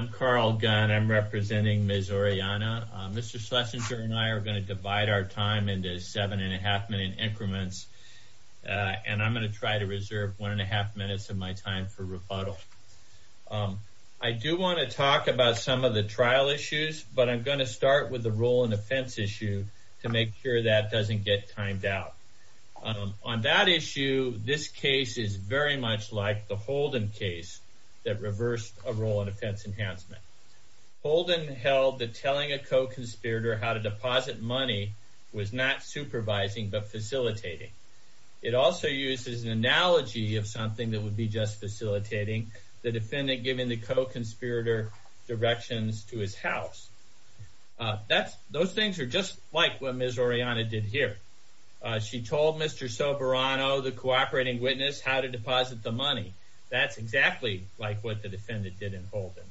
I'm Carl Gunn. I'm representing Ms. Orellana. Mr. Schlesinger and I are going to divide our time into seven and a half minute increments, and I'm going to try to reserve one and a half minutes of my time for rebuttal. I do want to talk about some of the trial issues, but I'm going to start with the role and offense issue to make sure that doesn't get timed out. On that issue, this case is very much like the Holden case that reversed a role in defense enhancement. Holden held that telling a co-conspirator how to deposit money was not supervising but facilitating. It also uses an analogy of something that would be just facilitating the defendant giving the co-conspirator directions to his house. Those things are just like what Ms. Orellana did here. She told Mr. Soberano, the cooperating witness, how to deposit the money. That's exactly like what the defendant did in Holden.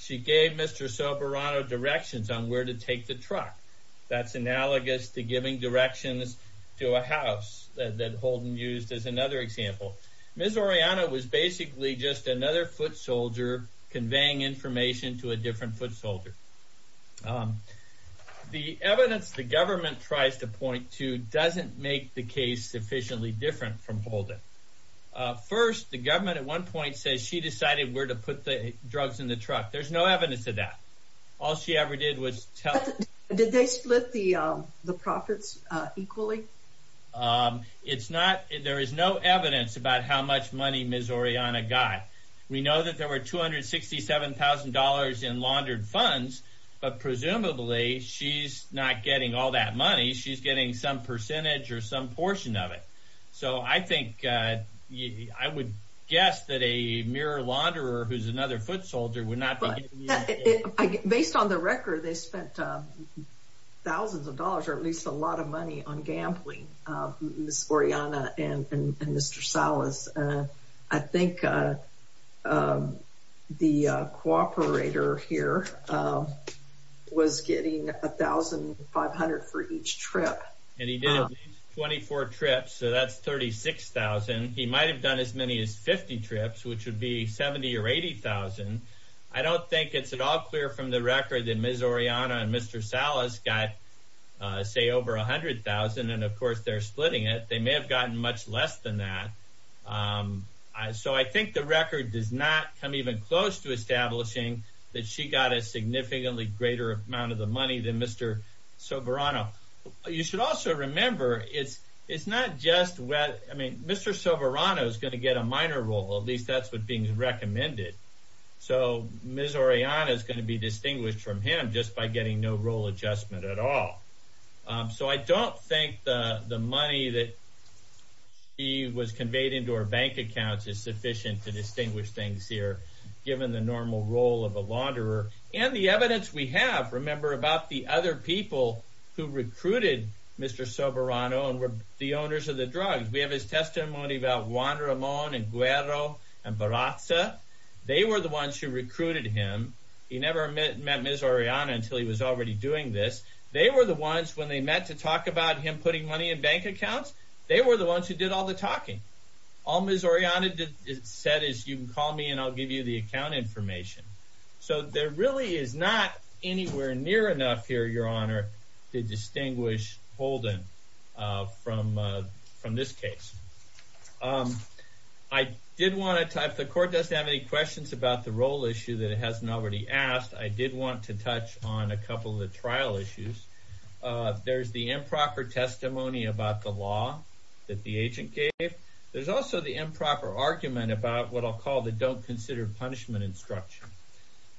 She gave Mr. Soberano directions on where to take the truck. That's analogous to giving directions to a house that Holden used as another example. Ms. Orellana was basically just another foot soldier conveying information to a different foot soldier. The evidence the government tries to point to doesn't make the case sufficiently different from Holden. First, the government at one point says she decided where to put the drugs in the truck. There's no evidence of that. All she ever did was tell... Did they split the profits equally? It's not. There is no evidence about how much money Ms. Orellana got. We know that there are $267,000 in laundered funds, but presumably, she's not getting all that money. She's getting some percentage or some portion of it. I would guess that a mere launderer who's another foot soldier would not be getting... Based on the record, they spent thousands of dollars, or at least a lot of money, on the cooperator here, was getting $1,500 for each trip. And he did 24 trips, so that's $36,000. He might have done as many as 50 trips, which would be $70,000 or $80,000. I don't think it's at all clear from the record that Ms. Orellana and Mr. Salas got, say, over $100,000. And of course, they're splitting it. They may have gotten much less than that. So I think the record does not come even close to establishing that she got a significantly greater amount of the money than Mr. Soberano. You should also remember, it's not just... I mean, Mr. Soberano is going to get a minor role. At least that's what's being recommended. So Ms. Orellana is going to be distinguished from him just by getting no role adjustment at all. So I don't think the money that she was conveyed into her bank accounts is sufficient to distinguish things here, given the normal role of a launderer. And the evidence we have, remember, about the other people who recruited Mr. Soberano and were the owners of the drugs. We have his testimony about Juan Ramon and Guero and Barraza. They were the ones who recruited him. He never met Ms. Orellana until he was already doing this. They were the ones, when they met to talk about him putting money in bank accounts, they were the ones who did all the talking. All Ms. Orellana said is, you can call me and I'll give you the account information. So there really is not anywhere near enough here, Your Honor, to distinguish Holden from this case. I did want to... If the Court doesn't have any questions about the role issue that it hasn't already asked, I did want to touch on a couple of the trial issues. There's the improper testimony about the law that the agent gave. There's also the improper argument about what I'll call the don't consider punishment instruction.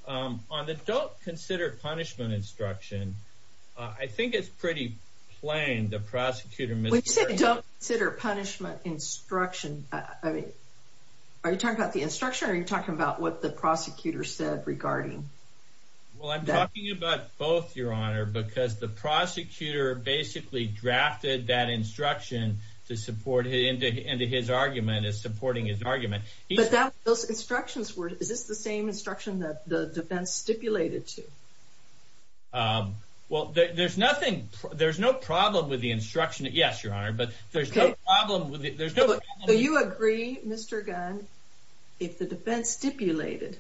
On the don't consider punishment instruction, I think it's pretty plain the prosecutor... When you say don't consider punishment instruction, are you talking about the instruction or are you talking about what the prosecutor said regarding... Well, I'm talking about both, Your Honor, because the prosecutor basically drafted that instruction to support into his argument, is supporting his argument. But those instructions were... Is this the same instruction that the defense stipulated to? Well, there's nothing... There's no problem with the instruction. Yes, Your Honor, but there's no problem with it. Do you agree, Mr. Gunn, if the defense stipulated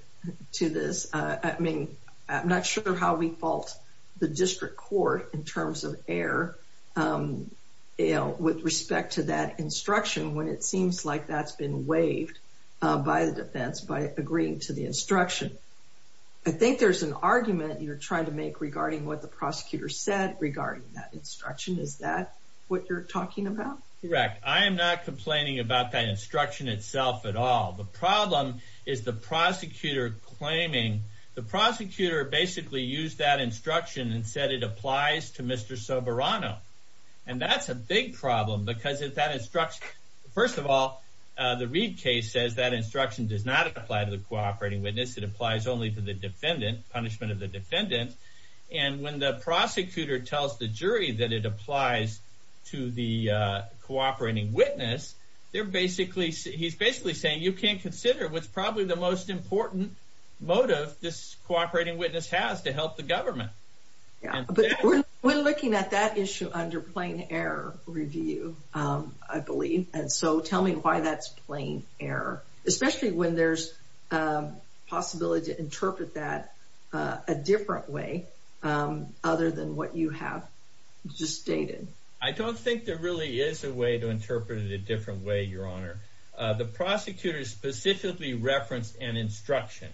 to this? I mean, I'm not sure how we fault the district court in terms of error with respect to that instruction when it seems like that's been waived by the defense by agreeing to the instruction. I think there's an argument you're trying to make regarding what the prosecutor said regarding that instruction. Is that what you're talking about? Correct. I am not complaining about that instruction itself at all. The problem is the prosecutor claiming... The prosecutor basically used that instruction and said it applies to Mr. Soberano. And that's a big problem because if that instruction... First of all, the Reid case says that instruction does not apply to the cooperating witness. It applies only to the defendant, punishment of the defendant. And when the prosecutor tells the jury that it applies to the cooperating witness, they're basically... He's basically saying you can't consider what's probably the most important motive this cooperating witness has to help the government. Yeah, but we're looking at that issue under plain error review, I believe. And so tell me why that's plain error, especially when there's possibility to interpret that a different way other than what you have just stated. I don't think there really is a way to interpret it a different way, Your Honor. The prosecutor specifically referenced an instruction.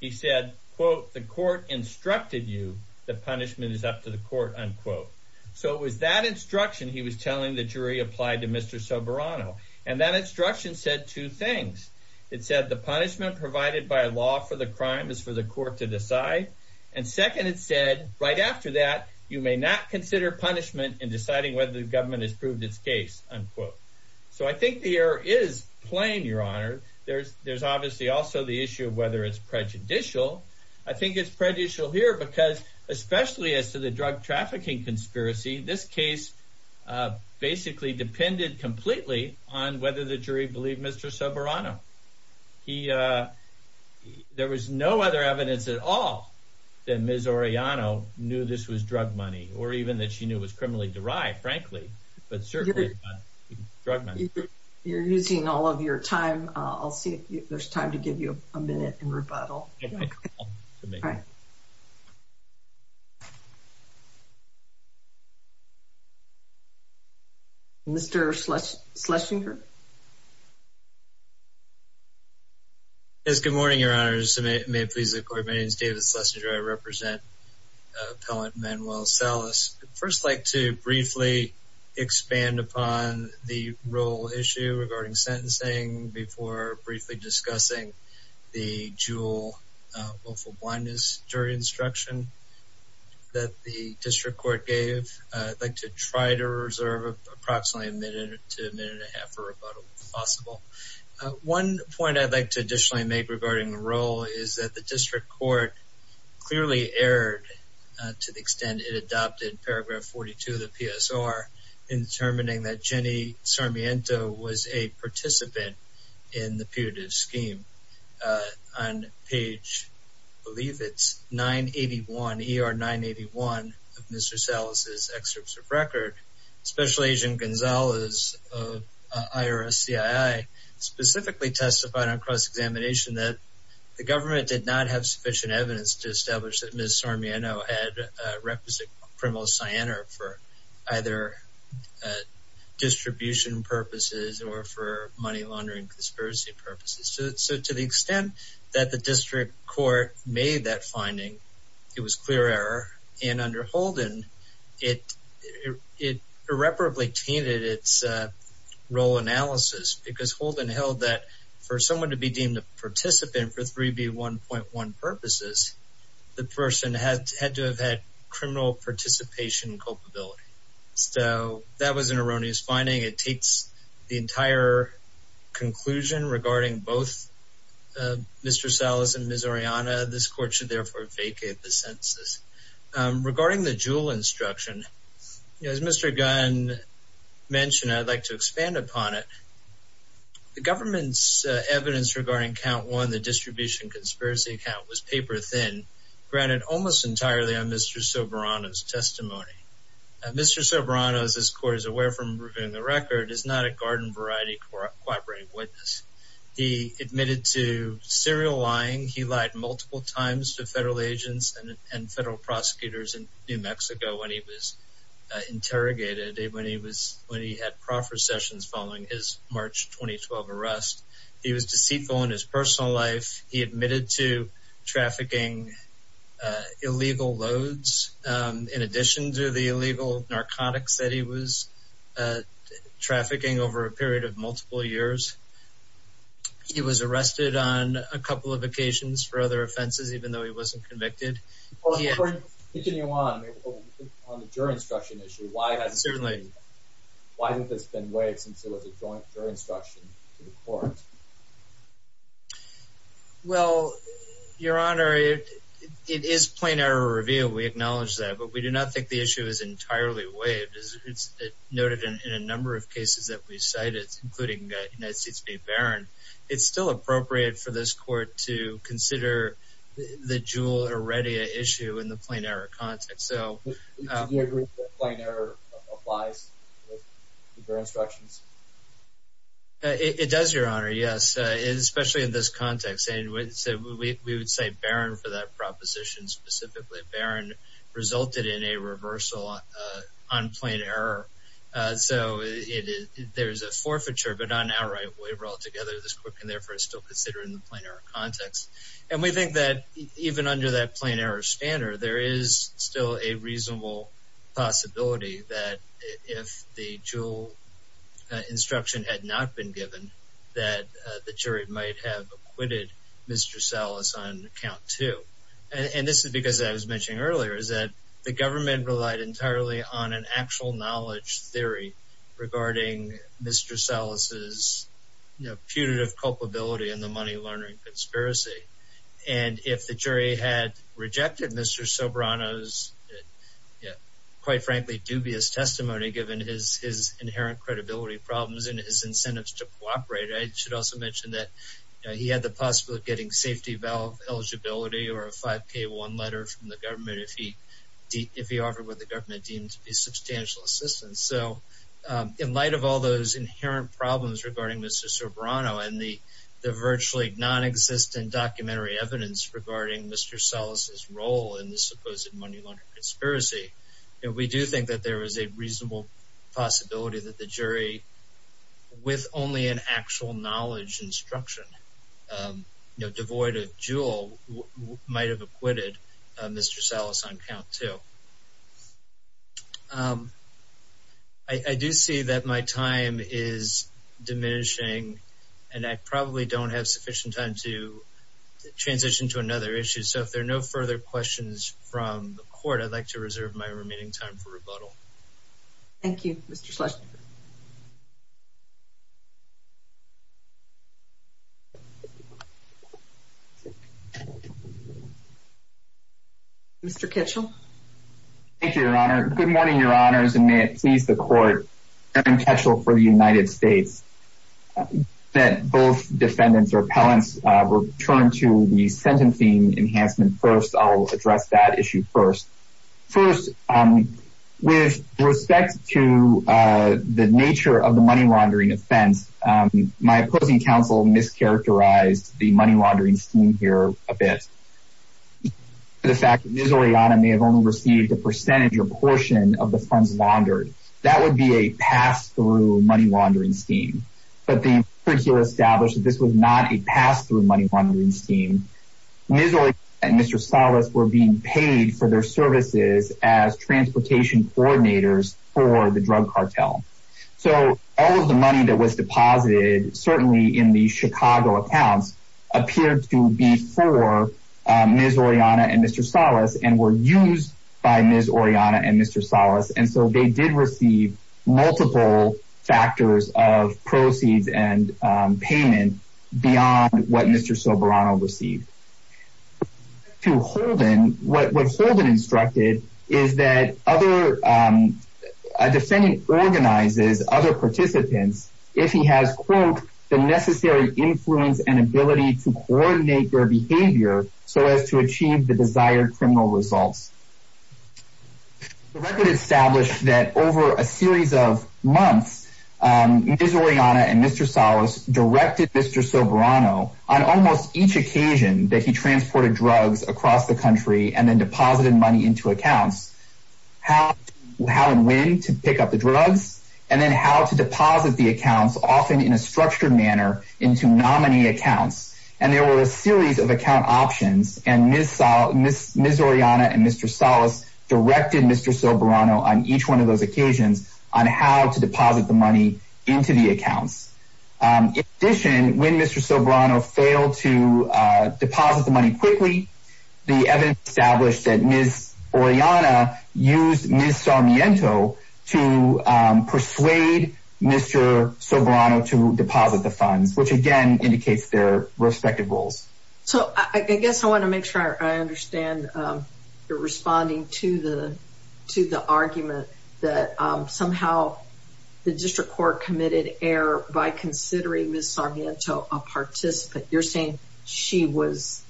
He said, quote, the court instructed you the punishment is up to the court, unquote. So it was that instruction he was telling the jury applied to Mr. Soberano. And that instruction said two things. It said the punishment provided by law for the crime is for the court to decide. And second, it said right after that, you may not consider punishment in deciding whether the government has proved its case, unquote. So I think the error is plain, Your Honor. There's obviously also the issue of whether it's prejudicial. I think it's prejudicial here because especially as to the drug trafficking conspiracy, this case basically depended completely on whether the jury believed Mr. Soberano. There was no other evidence at all that Ms. Orellano knew this was drug money or even that she knew it was criminally derived, frankly, but certainly not drug money. You're using all of your time. I'll see if there's time to give you a minute in rebuttal. Mr. Schlesinger? Yes, good morning, Your Honor. May it please the Court, my name is David Schlesinger. I represent Appellant Manuel Salas. I'd first like to briefly expand upon the role issue regarding sentencing before briefly discussing the dual willful blindness jury instruction that the District Court gave. I'd like to try to reserve approximately a minute to a minute and a half for rebuttal, if possible. One point I'd like to additionally make regarding the role is that the District Court clearly erred to the extent it adopted Paragraph 42 of the PSR in determining that Jenny Sarmiento was a participant in the putative scheme. On page, I believe it's 981, ER 981 of Mr. Salas' excerpts of record, Special Agent Gonzales of IRS-CII specifically testified on cross-examination that the government did not have sufficient either distribution purposes or for money laundering conspiracy purposes. So to the extent that the District Court made that finding, it was clear error. And under Holden, it irreparably tainted its role analysis because Holden held that for someone to be deemed a participant for 3B1.1 purposes, the person had to have had criminal participation culpability. So that was an erroneous finding. It taints the entire conclusion regarding both Mr. Salas and Ms. Oriana. This court should therefore vacate the sentences. Regarding the dual instruction, as Mr. Gunn mentioned, I'd like to expand upon it. The government's evidence regarding count one, the distribution conspiracy count, was paper-thin, granted almost entirely on Mr. Soberano's testimony. Mr. Soberano, as this court is aware from reviewing the record, is not a Garden Variety Cooperative witness. He admitted to serial lying. He lied multiple times to federal agents and federal prosecutors in New Mexico when he was interrogated, when he had proffer sessions following his March 2012 arrest. He was deceitful in his personal life. He admitted to trafficking illegal loads in addition to the illegal narcotics that he was trafficking over a period of multiple years. He was arrested on a couple of occasions for other offenses, even though he wasn't convicted. Well, if we continue on, on the juror instruction issue, why hasn't this been waived since it was a joint juror instruction to the court? Well, Your Honor, it is plain error of review. We acknowledge that, but we do not think the issue is entirely waived. It's noted in a number of cases that we've cited, including United States v. Barron, it's still appropriate for this court to consider the Juul or Redia issue in the plain error context. Do you agree that plain error applies to juror instructions? It does, Your Honor, yes, especially in this context. We would cite Barron for that proposition specifically. Barron resulted in a reversal on plain error. There's a forfeiture, but it's not an outright waiver altogether. This court can therefore still consider it in the plain error context. And we think that even under that plain error standard, there is still a reasonable possibility that if the Juul instruction had not been given, that the jury might have acquitted Mr. Salas on count two. And this is because, as I was mentioning earlier, is that the government relied entirely on an actual knowledge theory regarding Mr. Salas' putative culpability in the money laundering conspiracy. And if the jury had rejected Mr. Sobrano's, quite frankly, dubious testimony, given his inherent credibility problems and his incentives to cooperate, I should also mention that he had the possibility of getting safety valve eligibility or a 5K1 letter from the government if he offered what the government had offered. But given the inherent problems regarding Mr. Sobrano and the virtually non-existent documentary evidence regarding Mr. Salas' role in the supposed money laundering conspiracy, we do think that there is a reasonable possibility that the jury, with only an actual knowledge instruction devoid of Juul, might have acquitted Mr. Salas on count two. I do see that my time is diminishing, and I probably don't have sufficient time to transition to another issue. So if there are no further questions from the court, I'd like to reserve Thank you, Mr. Schlesinger. Mr. Kitchell. Thank you, Your Honor. Good morning, Your Honors, and may it please the court, Aaron Kitchell for the United States, that both defendants or appellants return to the sentencing enhancement first. I'll address that issue first. First, with respect to the nature of the money laundering offense, my opposing counsel mischaracterized the money laundering scheme here a bit. The fact that Ms. Orellana may have only received a percentage or portion of the funds laundered, that would be a pass-through money laundering scheme. But the appellant here established that this was not a pass-through money laundering scheme. Ms. Orellana and Mr. Salas were being paid for their services as transportation coordinators for the drug cartel. So all of the money that was deposited, certainly in the Chicago accounts, appeared to be for Ms. Orellana and Mr. Salas and were used by Ms. Orellana and Mr. Salas. And so they did receive multiple factors of proceeds and payment beyond what Mr. Soberano received. To Holden, what Holden instructed is that other, a defendant organizes other participants if he has, quote, the necessary influence and ability to coordinate their behavior so as to achieve the desired criminal results. The record established that over a series of months, Ms. Orellana and Mr. Salas directed Mr. Soberano on almost each occasion that he transported drugs across the country and then deposited money into accounts, how and when to pick up the drugs, and then how to deposit the accounts, often in a structured manner, into nominee accounts. And there were a series of account options and Ms. Orellana and Mr. Salas directed Mr. Soberano on each one of those occasions on how to deposit the money into the accounts. In addition, when Mr. Soberano failed to deposit the money quickly, the evidence established that Ms. Orellana used Ms. Sarmiento to persuade Mr. Soberano to deposit the funds, which again indicates their respective roles. So I guess I want to make sure I understand you're responding to the argument that somehow the district court committed error by considering Ms. Sarmiento a participant. You're saying she was,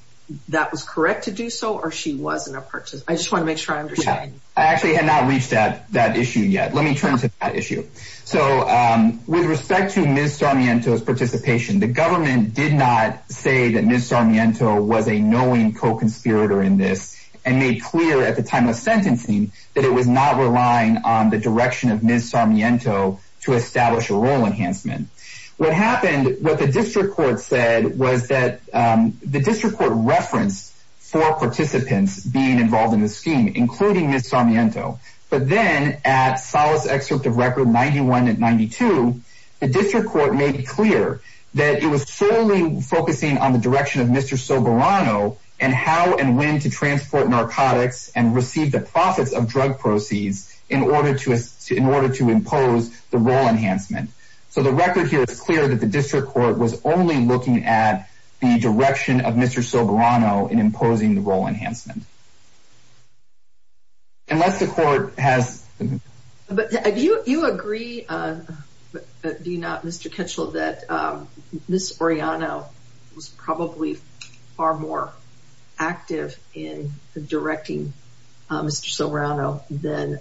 that was correct to do so, or she wasn't a participant? I just want to make sure I understand. I actually had not reached that issue yet. Let me turn to that issue. So with respect to Ms. Sarmiento's participation, the government did not say that Ms. Sarmiento was a knowing co-conspirator in this and made clear at the time of sentencing that it was not relying on the direction of Ms. Sarmiento to establish a role enhancement. What happened, what the district court said was that the district court referenced four participants being involved in the scheme, including Ms. Sarmiento, but then at Solace excerpt of record 91 and 92, the district court made clear that it was solely focusing on the direction of Mr. Soberano and how and when to transport narcotics and receive the profits of drug proceeds in order to impose the role enhancement. So the record here is clear that the district court was only looking at the direction of Mr. Soberano in imposing the role enhancement. Unless the court has... But do you agree, do you not, Mr. Kitchell, that Ms. Oriano was probably far more active in directing Mr. Soberano than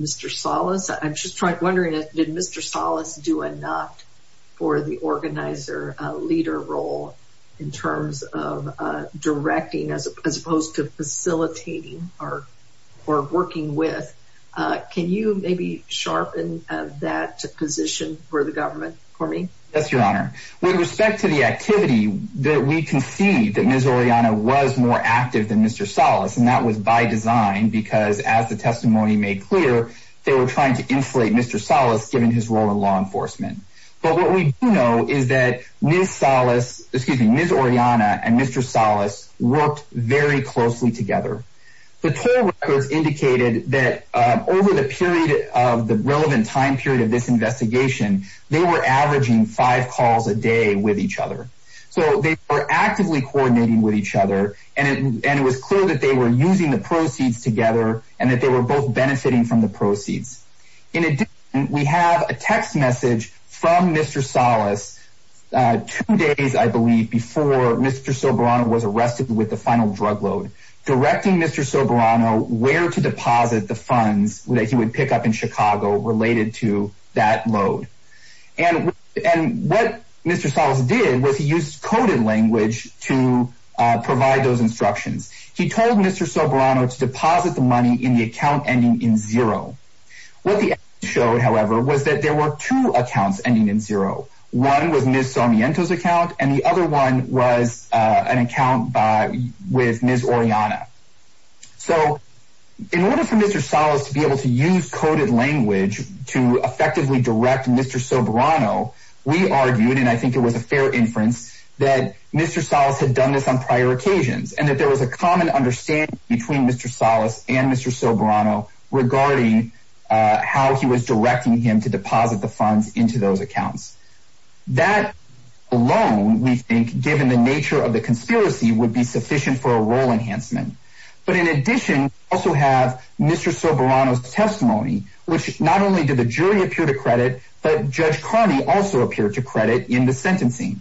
Mr. Solace? I'm just wondering, did Mr. Solace do a leader role in terms of directing as opposed to facilitating or working with? Can you maybe sharpen that position for the government for me? Yes, Your Honor. With respect to the activity, we can see that Ms. Oriano was more active than Mr. Solace and that was by design because as the testimony made clear, they were trying to insulate Mr. Solace given his role in enforcement. But what we do know is that Ms. Solace, excuse me, Ms. Oriano and Mr. Solace worked very closely together. The toll records indicated that over the period of the relevant time period of this investigation, they were averaging five calls a day with each other. So they were actively coordinating with each other and it was clear that they were using the proceeds together and that they were both benefiting from the proceeds. In addition, we have a text message from Mr. Solace two days, I believe, before Mr. Soberano was arrested with the final drug load directing Mr. Soberano where to deposit the funds that he would pick up in Chicago related to that load. And what Mr. Solace did was he used coded language to provide those instructions. He told Mr. Soberano to deposit the money in the account ending in zero. What the evidence showed, however, was that there were two accounts ending in zero. One was Ms. Sarmiento's account and the other one was an account with Ms. Oriana. So in order for Mr. Solace to be able to use coded language to effectively direct Mr. Soberano, we argued, and I think it was a fair inference, that Mr. Solace had done this on prior occasions and that there was a common understanding between Mr. Solace and Mr. Soberano regarding how he was directing him to deposit the funds into those accounts. That alone, we think, given the nature of the conspiracy, would be sufficient for a role enhancement. But in addition, we also have Mr. Soberano's testimony, which not only did the jury appear to credit, but Judge Carney also appeared to credit in the sentencing.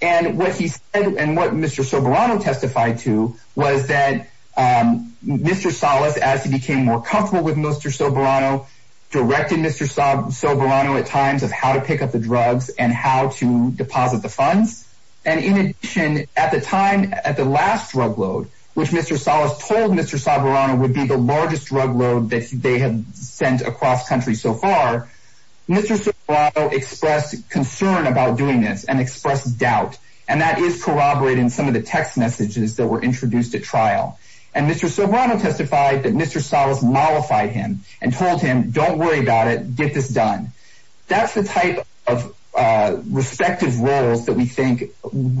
And what he said and what Mr. Soberano testified to was that Mr. Solace, as he became more comfortable with Mr. Soberano, directed Mr. Soberano at times of how to pick up the drugs and how to deposit the funds. And in addition, at the time, at the last drug load, which Mr. Solace told Mr. Soberano would be the largest drug load that they had sent across country so far, Mr. Soberano expressed concern about doing this and expressed doubt. And that is corroborated in some of the text messages that were introduced at trial. And Mr. Soberano testified that Mr. Solace mollified him and told him, don't worry about it, get this done. That's the type of respective roles that we think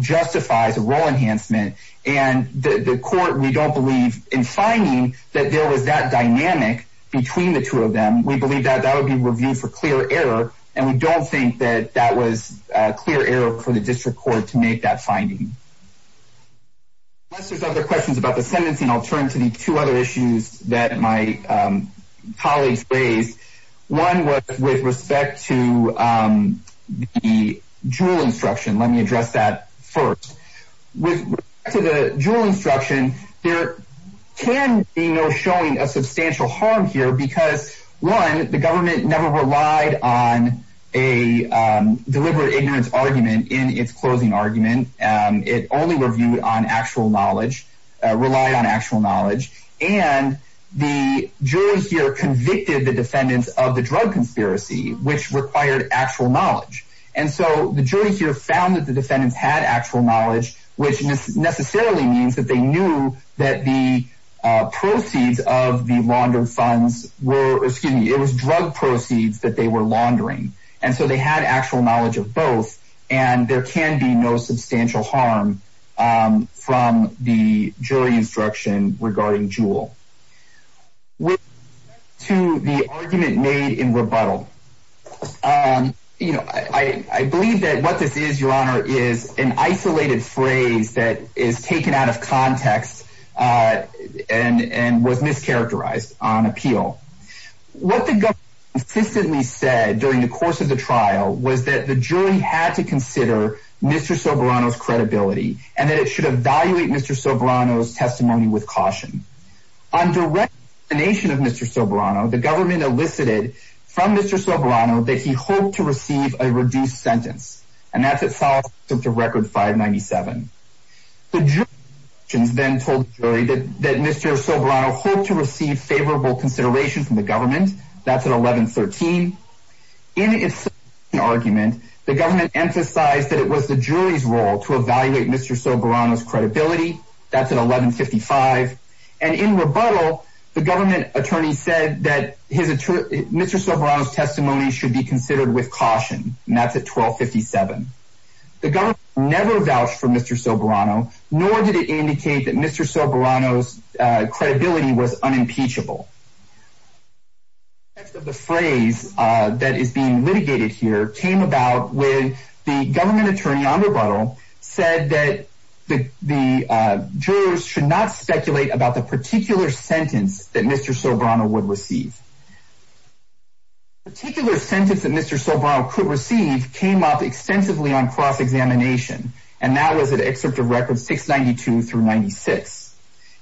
justifies a role enhancement. And the court, we don't believe in finding that there was that dynamic between the two of them. We believe that that would be reviewed for clear error. And we don't think that that was a clear error for the district court to make that finding. Unless there's other questions about the sentencing, I'll turn to the two other issues that my colleagues raised. One was with respect to the jewel instruction. Let me address that first. With respect to the jewel instruction, there can be no showing of substantial harm here because one, the government never relied on a deliberate ignorance argument in its closing argument. It only reviewed on actual knowledge, relied on actual knowledge. And the jury here convicted the defendants of the drug conspiracy, which required actual knowledge. And so the jury here found that the defendants had actual knowledge, which necessarily means that they knew that the proceeds of the laundered funds were, excuse me, it was drug proceeds that they were laundering. And so they had actual knowledge of both, and there can be no substantial harm from the jury instruction regarding jewel. With respect to the argument made in rebuttal, you know, I believe that what this is, Your Honor, is an isolated phrase that is taken out of context and was mischaracterized on appeal. What the government consistently said during the course of the trial was that the jury had to consider Mr. Soberano's credibility and that it should evaluate Mr. Soberano's testimony with caution. Under recognition of Mr. Soberano, the government elicited from Mr. Soberano that he hoped to receive a reduced sentence, and that's at 597. The jury then told the jury that Mr. Soberano hoped to receive favorable consideration from the government. That's at 1113. In its argument, the government emphasized that it was the jury's role to evaluate Mr. Soberano's credibility. That's at 1155. And in rebuttal, the government attorney said that Mr. Soberano's testimony should be considered with caution, and that's at 1257. The government never vouched for Mr. Soberano, nor did it indicate that Mr. Soberano's credibility was unimpeachable. The phrase that is being litigated here came about when the government attorney on rebuttal said that the jurors should not speculate about the particular sentence that Mr. Soberano would receive came up extensively on cross-examination, and that was at Excerpt of Records 692-96.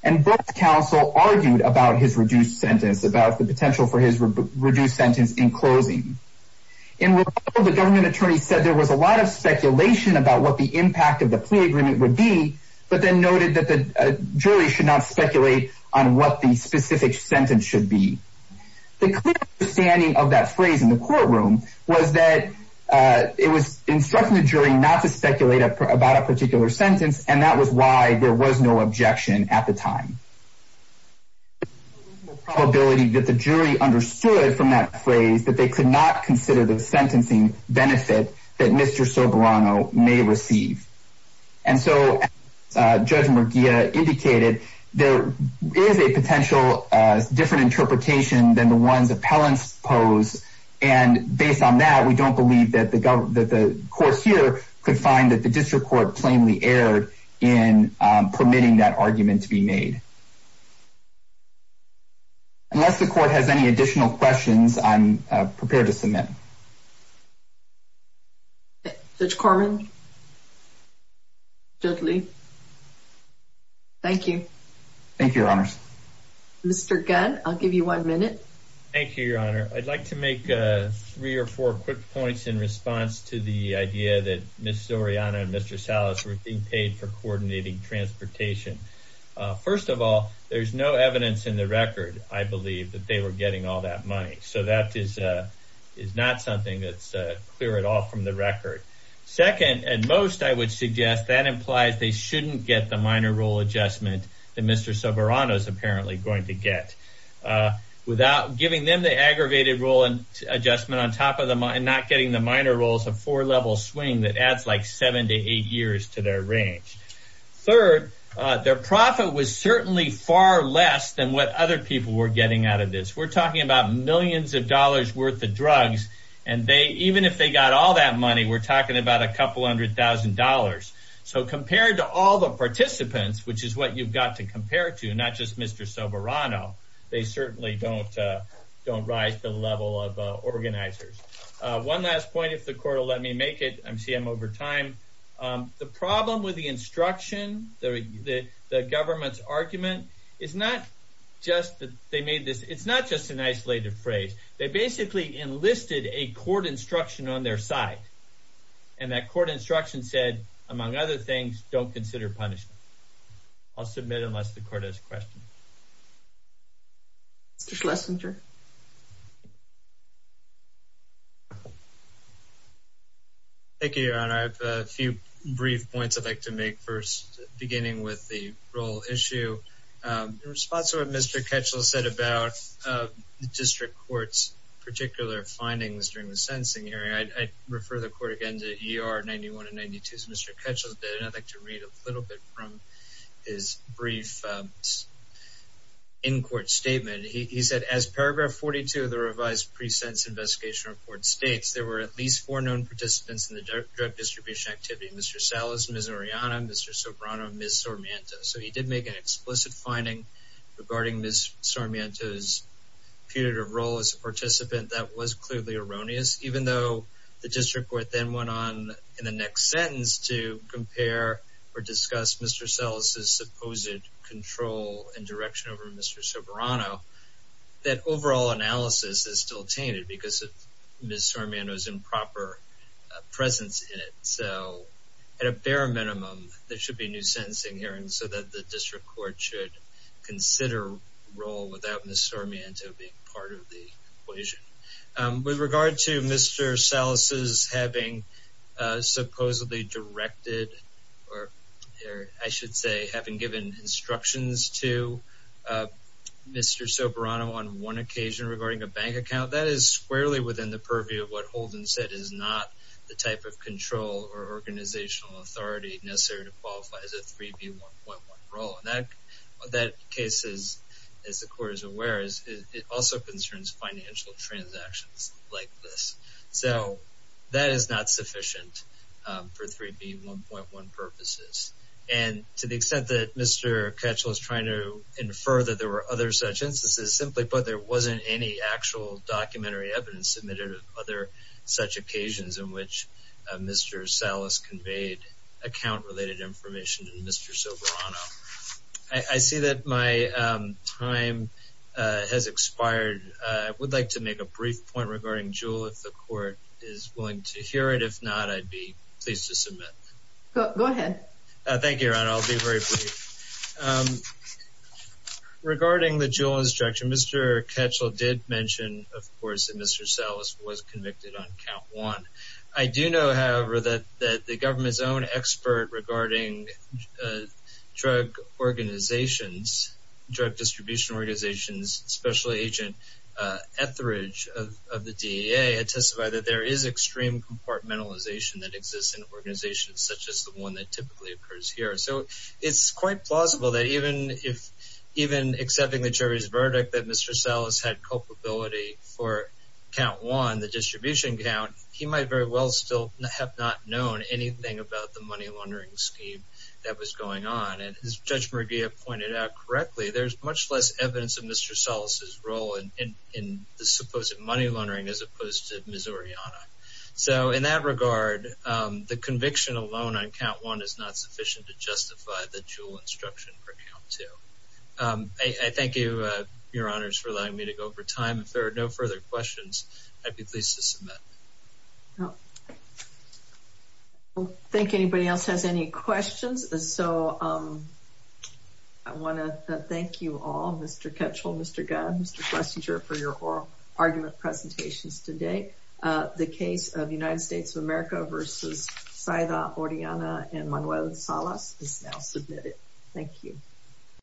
And both counsel argued about his reduced sentence, about the potential for his reduced sentence in closing. In rebuttal, the government attorney said there was a lot of speculation about what the impact of the plea agreement would be, but then noted that the jury should not speculate on what the specific sentence should be. The clear understanding of that phrase in the courtroom was that it was instructing the jury not to speculate about a particular sentence, and that was why there was no objection at the time. The probability that the jury understood from that phrase that they could not consider the sentencing benefit that Mr. Soberano may receive. And so, Judge Murguia indicated there is a potential different interpretation than the appellant's pose, and based on that, we don't believe that the court here could find that the district court plainly erred in permitting that argument to be made. Unless the court has any additional questions, I'm prepared to submit. Judge Corman? Judge Lee? Thank you. Thank you, Your Honors. Mr. Gunn, I'll give you one minute. Thank you, Your Honor. I'd like to make three or four quick points in response to the idea that Ms. Soriano and Mr. Salas were being paid for coordinating transportation. First of all, there's no evidence in the record, I believe, that they were getting all that money, so that is not something that's clear at all from the record. Second, and most I would suggest, that implies they shouldn't get the minor rule adjustment that Mr. Soberano is apparently going to get without giving them the aggravated rule adjustment and not getting the minor rules of four-level swing that adds like seven to eight years to their range. Third, their profit was certainly far less than what other people were getting out of this. We're talking about millions of dollars worth of drugs, and even if they got all that money, we're talking about a couple hundred thousand dollars. So compared to all the participants, which is what you've got to compare to, not just Mr. Soberano, they certainly don't rise to the level of organizers. One last point, if the court will let me make it, I'm over time. The problem with the instruction, the government's argument, is not just that they made this, it's not just an isolated phrase. They basically enlisted a court instruction on their side, and that court instruction said, among other things, don't consider punishment. I'll submit unless the court has questions. Mr. Schlesinger. Thank you, Your Honor. I have a few brief points I'd like to make first, beginning with the role issue. In response to what Mr. Ketchell said about the district court's particular findings during the sentencing hearing, I'd refer the court again to ER 91 and 92, as Mr. Ketchell did, and I'd read a little bit from his brief in-court statement. He said, as paragraph 42 of the revised pre-sentence investigation report states, there were at least four known participants in the drug distribution activity. Mr. Salas, Ms. Oriana, Mr. Soberano, and Ms. Sarmiento. So he did make an explicit finding regarding Ms. Sarmiento's punitive role as a participant that was clearly erroneous, even though the district court then went on in the next sentence to compare or discuss Mr. Salas's supposed control and direction over Mr. Soberano. That overall analysis is still tainted because of Ms. Sarmiento's improper presence in it. So at a bare minimum, there should be a new sentencing hearing so that the district court should consider role without Ms. Sarmiento being part of the case. Mr. Salas's having supposedly directed, or I should say, having given instructions to Mr. Soberano on one occasion regarding a bank account, that is squarely within the purview of what Holden said is not the type of control or organizational authority necessary to qualify as a 3B1.1 role. In that case, as the court is aware, it also concerns financial transactions like this. So that is not sufficient for 3B1.1 purposes. And to the extent that Mr. Ketchel is trying to infer that there were other such instances, simply put, there wasn't any actual documentary evidence submitted of other such occasions in which Mr. Salas conveyed account related information to Mr. Soberano. I see that my time has expired. I would like to make a brief point regarding JUUL if the court is willing to hear it. If not, I'd be pleased to submit. Go ahead. Thank you, Your Honor. I'll be very brief. Regarding the JUUL instruction, Mr. Ketchel did mention, of course, that Mr. Salas was convicted on count one. I do know, however, that the government's own expert regarding drug organizations, drug distribution organizations, Special Agent Etheridge of the DEA, testified that there is extreme compartmentalization that exists in organizations such as the one that typically occurs here. So it's quite plausible that even accepting the jury's verdict that Mr. Salas had culpability for count one, the distribution count, he might very well still have not known anything about the money laundering scheme that was going on. And as Judge Murgia pointed out correctly, there's much less evidence of Mr. Salas' role in the supposed money laundering as opposed to Missouriana. So in that regard, the conviction alone on count one is not sufficient to justify the JUUL instruction for count two. I thank you, Your Honors, for allowing me to go over time. If there are no further questions, I'd be pleased to submit. I don't think anybody else has any questions, so I want to thank you all, Mr. Ketchel, Mr. Gunn, Mr. Klesinger, for your oral argument presentations today. The case of United States of America versus Saida Oriana and Manuel Salas is now submitted. Thank you.